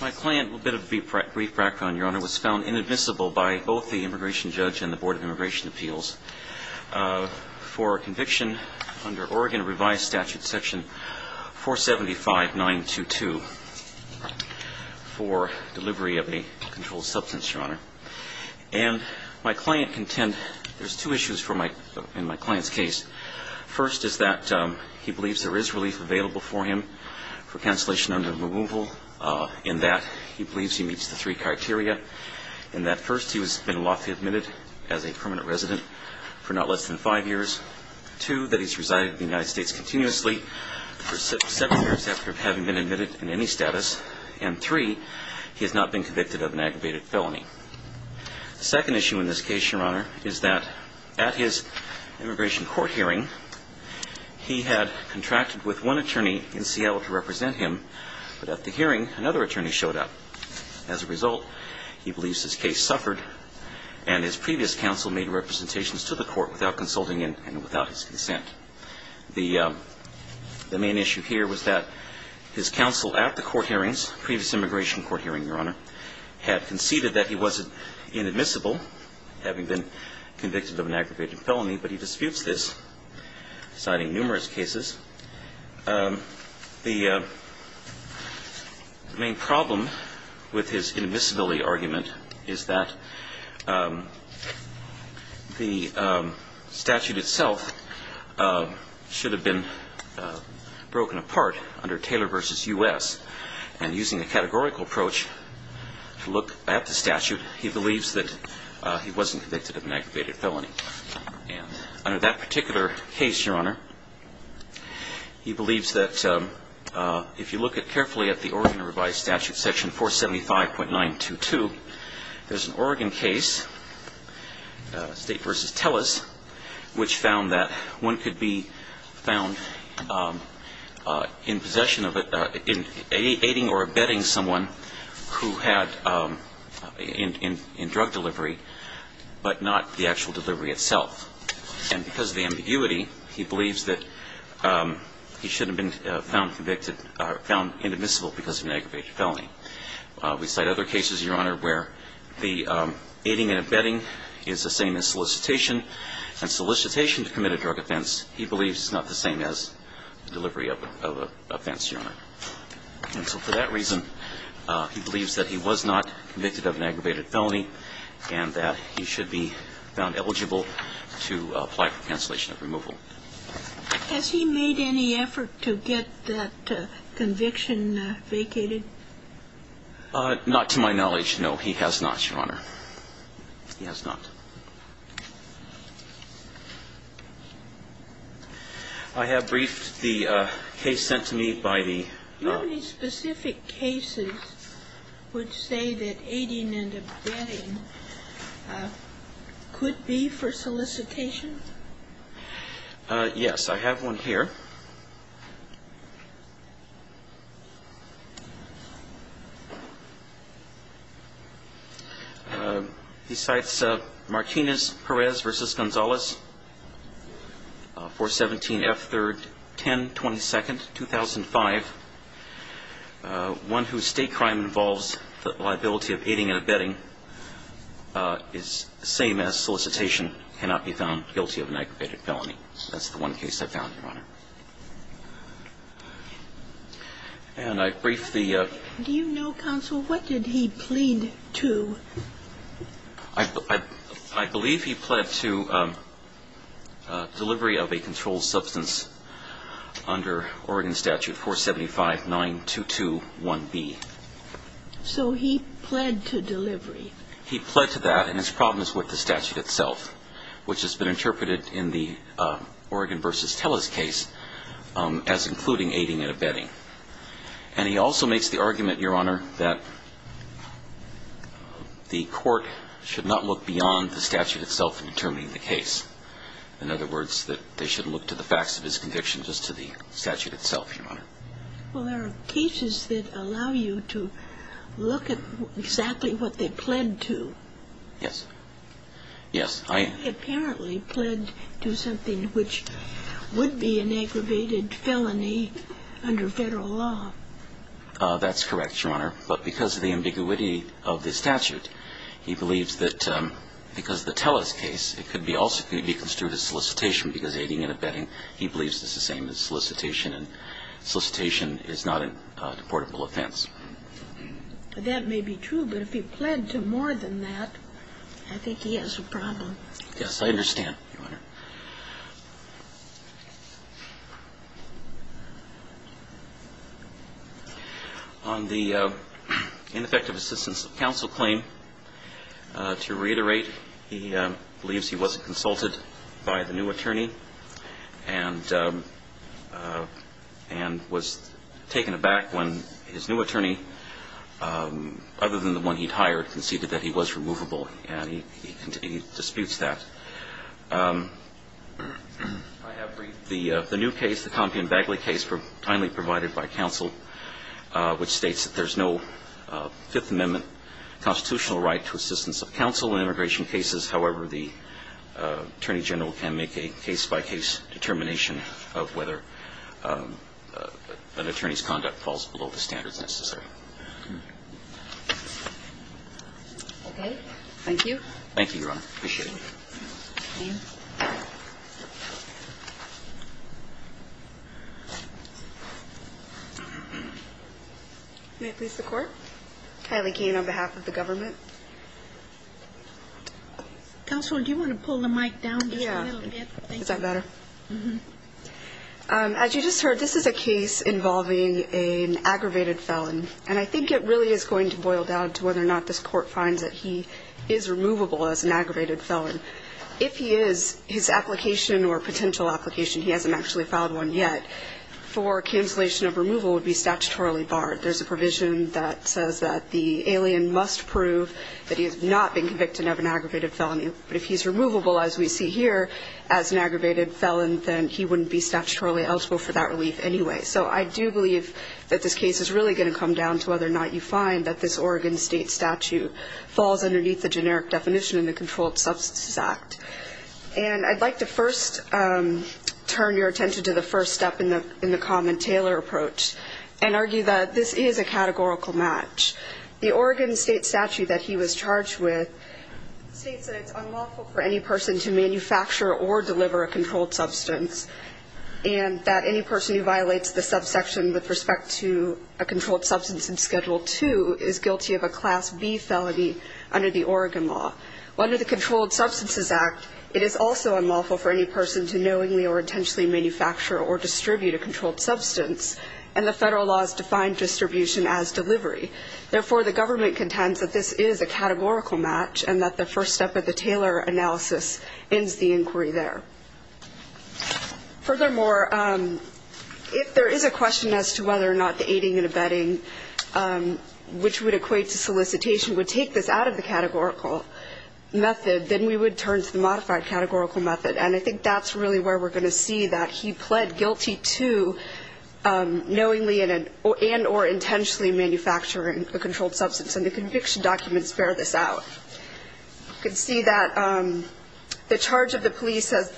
My client, a little bit of a brief background, Your Honor, was found inadmissible by both the immigration judge and the Board of Immigration Appeals for conviction under Oregon revised statute section 475 922 for delivery of a controlled substance, Your Honor. My client contends there's two issues in my client's case. First is that he believes there is relief available for him for cancellation under removal in that he believes he meets the three criteria in that first he has been lawfully admitted as a permanent resident for not less than five years, two, that he's resided in the United States continuously for seven years after having been admitted in any status, and three, he has not been convicted of an aggravated felony. The second issue in this case, Your Honor, is that at his immigration court hearing he had contracted with one attorney in Seattle to represent him, but at the hearing another attorney showed up. As a result, he believes his case suffered and his previous counsel made representations to the court without consulting him and without his consent. The main issue here was that his counsel at the court hearings, previous immigration court hearing, Your Honor, had conceded that he wasn't inadmissible having been convicted of an aggravated felony, but he disputes this. Citing numerous cases, the main problem with his inadmissibility argument is that the statute itself should have been broken apart under Taylor v. U.S. and using a categorical approach to look at the statute, he believes that he wasn't convicted of an aggravated felony. Under that particular case, Your Honor, he believes that if you look at carefully at the Oregon revised statute, section 475.922, there's an Oregon case, State v. Tellus, which found that one could be found in possession of it in aiding or abetting someone who had in drug delivery, but not the actual delivery itself. And because of the ambiguity, he believes that he should have been found convicted or found inadmissible because of an aggravated felony. We cite other cases, Your Honor, where the aiding and abetting is the same as solicitation, and solicitation to commit a drug offense, he believes is not the same as delivery of an offense, Your Honor. And so for that reason, he believes that he was not convicted of an aggravated felony and that he should be found eligible to apply for cancellation of removal. Has he made any effort to get that conviction vacated? Not to my knowledge, no, he has not, Your Honor. He has not. I have briefed the case sent to me by the State. Do you have any specific cases which say that aiding and abetting could be for solicitation? Yes, I have one here. He cites Martinez-Perez v. Gonzalez, 417 F3rd 1022nd, 2005, one whose state crime involves the liability of aiding and abetting is the same as solicitation, cannot be found guilty of an aggravated felony. That's the one case I found, Your Honor. And I briefed the... Do you know, counsel, what did he plead to? I believe he pled to delivery of a controlled substance under Oregon Statute 475 922 1B. So he pled to delivery. He pled to that and his problem is with the statute itself, which has been interpreted in the Oregon v. Tellus case as including aiding and abetting. And he also makes the argument, Your Honor, that the court should not look beyond the statute itself in determining the case. In other words, that they should look to the facts of his conviction just to the statute itself, Your Honor. Well, there are cases that allow you to look at exactly what they pled to. Yes. Yes, I... He apparently pled to something which would be an aggravated felony under federal law. That's correct, Your Honor. But because of the ambiguity of the statute, he believes that because of the Tellus case, it could also be construed as solicitation because aiding and abetting. He believes this is the same as solicitation and solicitation is not a deportable offense. That may be true, but if he pled to more than that, I think he has a problem. Yes, I understand, Your Honor. On the ineffective assistance of counsel claim to reiterate, he believes he wasn't consulted by the new attorney and and was taken aback when his new attorney, other than the one he'd hired, conceded that he was removable. And he disputes that. The new case, the Compion-Bagley case, finally provided by counsel, which states that there's no Fifth Amendment constitutional right to assistance of counsel in immigration cases. However, the Attorney General can make a case-by-case determination of whether an attorney's conduct falls below the standards necessary. May I please the court? Kylie Keene on behalf of the government. Counsel, do you want to pull the mic down just a little bit? Yeah, is that better? As you just heard, this is a case involving an aggravated felon and I think it really is going to boil down to whether or not this court finds that he is removable as an aggravated felon. If he is, his application or potential application, he hasn't actually filed one yet, for cancellation of removal would be statutorily barred. There's a provision that says that the alien must prove that he has not been convicted of an aggravated felony. But if he's removable, as we see here, as an aggravated felon, then he wouldn't be statutorily eligible for that relief anyway. So I do believe that this case is really going to come down to whether or not you find that this Oregon State statute falls underneath the generic definition in the Controlled Substances Act. And I'd like to first turn your attention to the first step in the common tailor approach and argue that this is a categorical match. The Oregon State statute that he was charged with states that it's unlawful for any person to manufacture or deliver a controlled substance and that any person who violates the subsection with respect to a under the Oregon law. Well, under the Controlled Substances Act, it is also unlawful for any person to knowingly or intentionally manufacture or distribute a controlled substance and the federal laws define distribution as delivery. Therefore, the government contends that this is a categorical match and that the first step of the tailor analysis ends the inquiry there. Furthermore, if there is a question as to whether or not the aiding and abetting, which would equate to solicitation, would take this out of the categorical method, then we would turn to the modified categorical method. And I think that's really where we're going to see that he pled guilty to knowingly and or intentionally manufacturing a controlled substance and the conviction documents bear this out. You can see that the charge of the police says,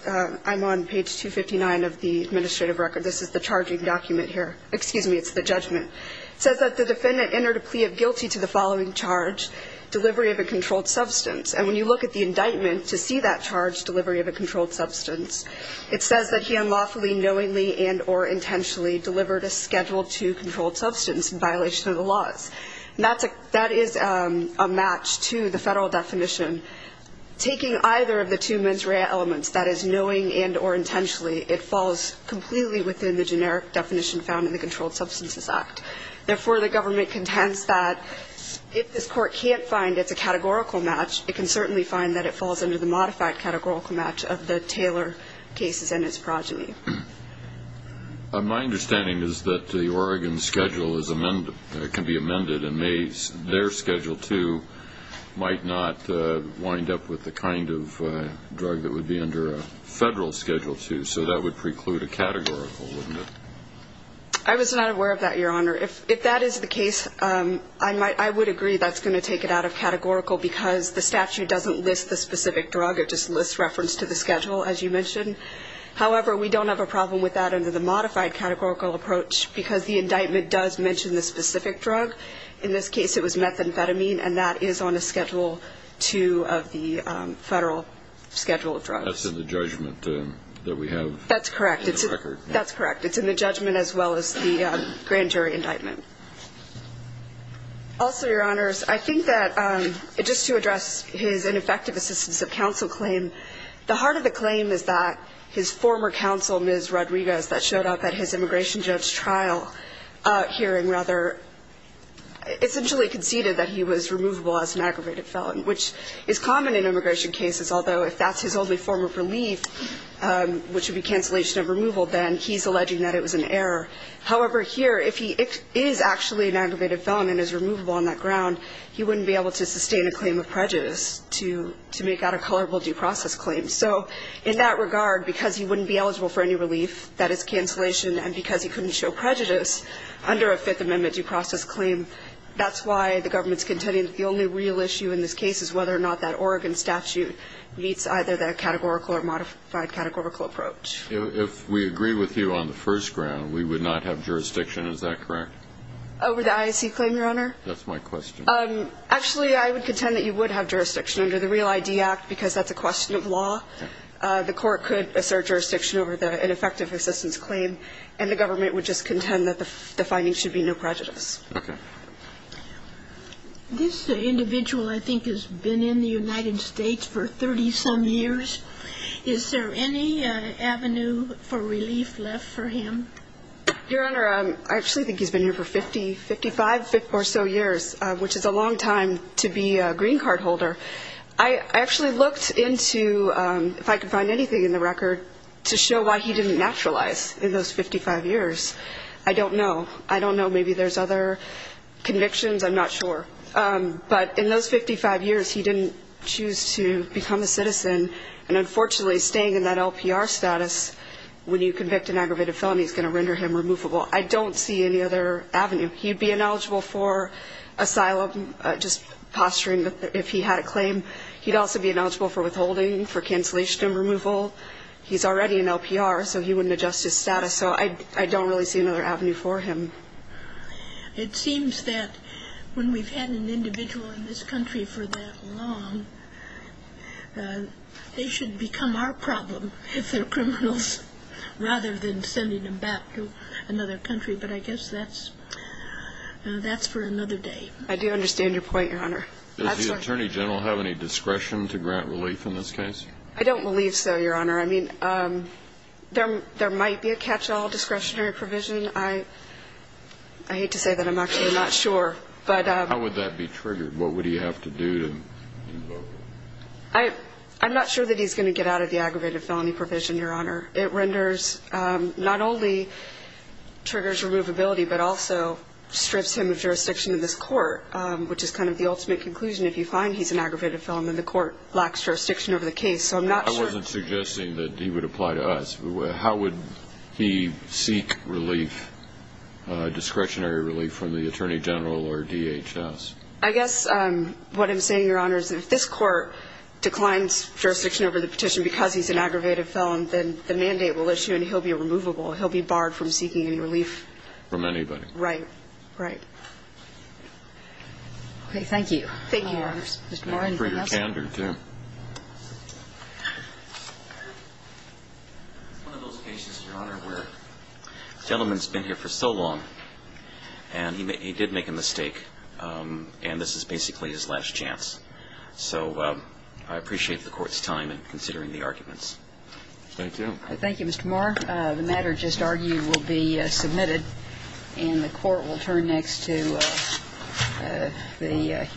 I'm on page 259 of the administrative record, this is the charging document here, excuse me, it's the judgment. It says that the defendant entered a plea of guilty to the following charge, delivery of a controlled substance. And when you look at the indictment to see that charge, delivery of a controlled substance, it says that he unlawfully, knowingly, and or intentionally delivered a Schedule II controlled substance in violation of the laws. And that is a match to the federal definition. Taking either of the two mens rea elements, that is knowing and or intentionally, it falls completely within the generic definition found in the Controlled Substances Act. Therefore, the government contends that if this court can't find it's a categorical match, it can certainly find that it falls under the modified categorical match of the Taylor cases and its progeny. My understanding is that the Oregon schedule can be amended and their Schedule II might not wind up with the kind of categorical. I was not aware of that, Your Honor. If that is the case, I might, I would agree that's going to take it out of categorical because the statute doesn't list the specific drug. It just lists reference to the schedule, as you mentioned. However, we don't have a problem with that under the modified categorical approach because the indictment does mention the specific drug. In this case, it was methamphetamine, and that is on a Schedule II of the federal schedule of drugs. That's in the judgment that we have. That's correct. That's correct. It's in the judgment as well as the grand jury indictment. Also, Your Honors, I think that just to address his ineffective assistance of counsel claim, the heart of the claim is that his former counsel, Ms. Rodriguez, that showed up at his immigration judge trial hearing rather essentially conceded that he was removable as an aggravated felon, which is common in immigration cases, although if that's his only form of relief, which would be cancellation of removal, then he's alleging that it was an error. However, here, if he is actually an aggravated felon and is removable on that ground, he wouldn't be able to sustain a claim of prejudice to make out a colorable due process claim. So in that regard, because he wouldn't be eligible for any relief, that is cancellation, and because he couldn't show prejudice under a Fifth Amendment due process claim, that's why the government's contending that the only real issue in this case is whether or not that Oregon statute meets either the categorical or modified categorical approach. If we agree with you on the first ground, we would not have jurisdiction, is that correct? Over the IAC claim, Your Honor? That's my question. Actually, I would contend that you would have jurisdiction under the Real ID Act, because that's a question of law. The court could assert jurisdiction over the ineffective assistance claim, and the government would just contend that the findings should be no prejudice. Okay. This individual, I think, has been in the United States for 30-some years. Is there any avenue for relief left for him? Your Honor, I actually think he's been here for 50, 55 or so years, which is a long time to be a green card holder. I actually looked into, if I could find anything in the record, to show why he didn't naturalize in those 55 years. I don't know. I don't know. Maybe there's other convictions. I'm not sure. But in those 55 years, he didn't choose to become a citizen. And unfortunately, staying in that LPR status, when you convict an aggravated felony, is going to render him removable. I don't see any other avenue. He'd be ineligible for asylum, just posturing if he had a claim. He'd also be ineligible for withholding, for cancellation and removal. He's already in LPR, so he wouldn't adjust his status. So I don't really see another avenue for him. It seems that when we've had an individual in this country for that long, they should become our problem if they're criminals, rather than sending them back to another country. But I guess that's for another day. I do understand your point, Your Honor. Does the Attorney General have any discretion to grant relief in this case? I don't believe so, Your Honor. I mean, there might be a catch-all discretionary provision. I hate to say that. I'm actually not sure. How would that be triggered? What would he have to do to invoke it? I'm not sure that he's going to get out of the aggravated felony provision, Your Honor. It renders, not only triggers removability, but also strips him of jurisdiction in this court, which is kind of the ultimate conclusion. If you find he's an aggravated felon, then the court lacks jurisdiction over the case. So I'm not sure. I wasn't suggesting that he would apply to us. How would he seek relief, discretionary relief, from the Attorney General or DHS? I guess what I'm saying, Your Honor, is if this court declines jurisdiction over the petition because he's an aggravated felon, then the mandate will issue and he'll be removable. He'll be barred from seeking any relief. From anybody. Right. Right. Okay. Thank you. Thank you, Your Honor. Mr. Moore, anything else? I'm afraid I can't do two. It's one of those cases, Your Honor, where a gentleman's been here for so long and he did make a mistake, and this is basically his last chance. So I appreciate the Court's time in considering the arguments. Thank you. Thank you, Mr. Moore. The matter just argued will be submitted, and the Court will turn next to the Human Rights Committee.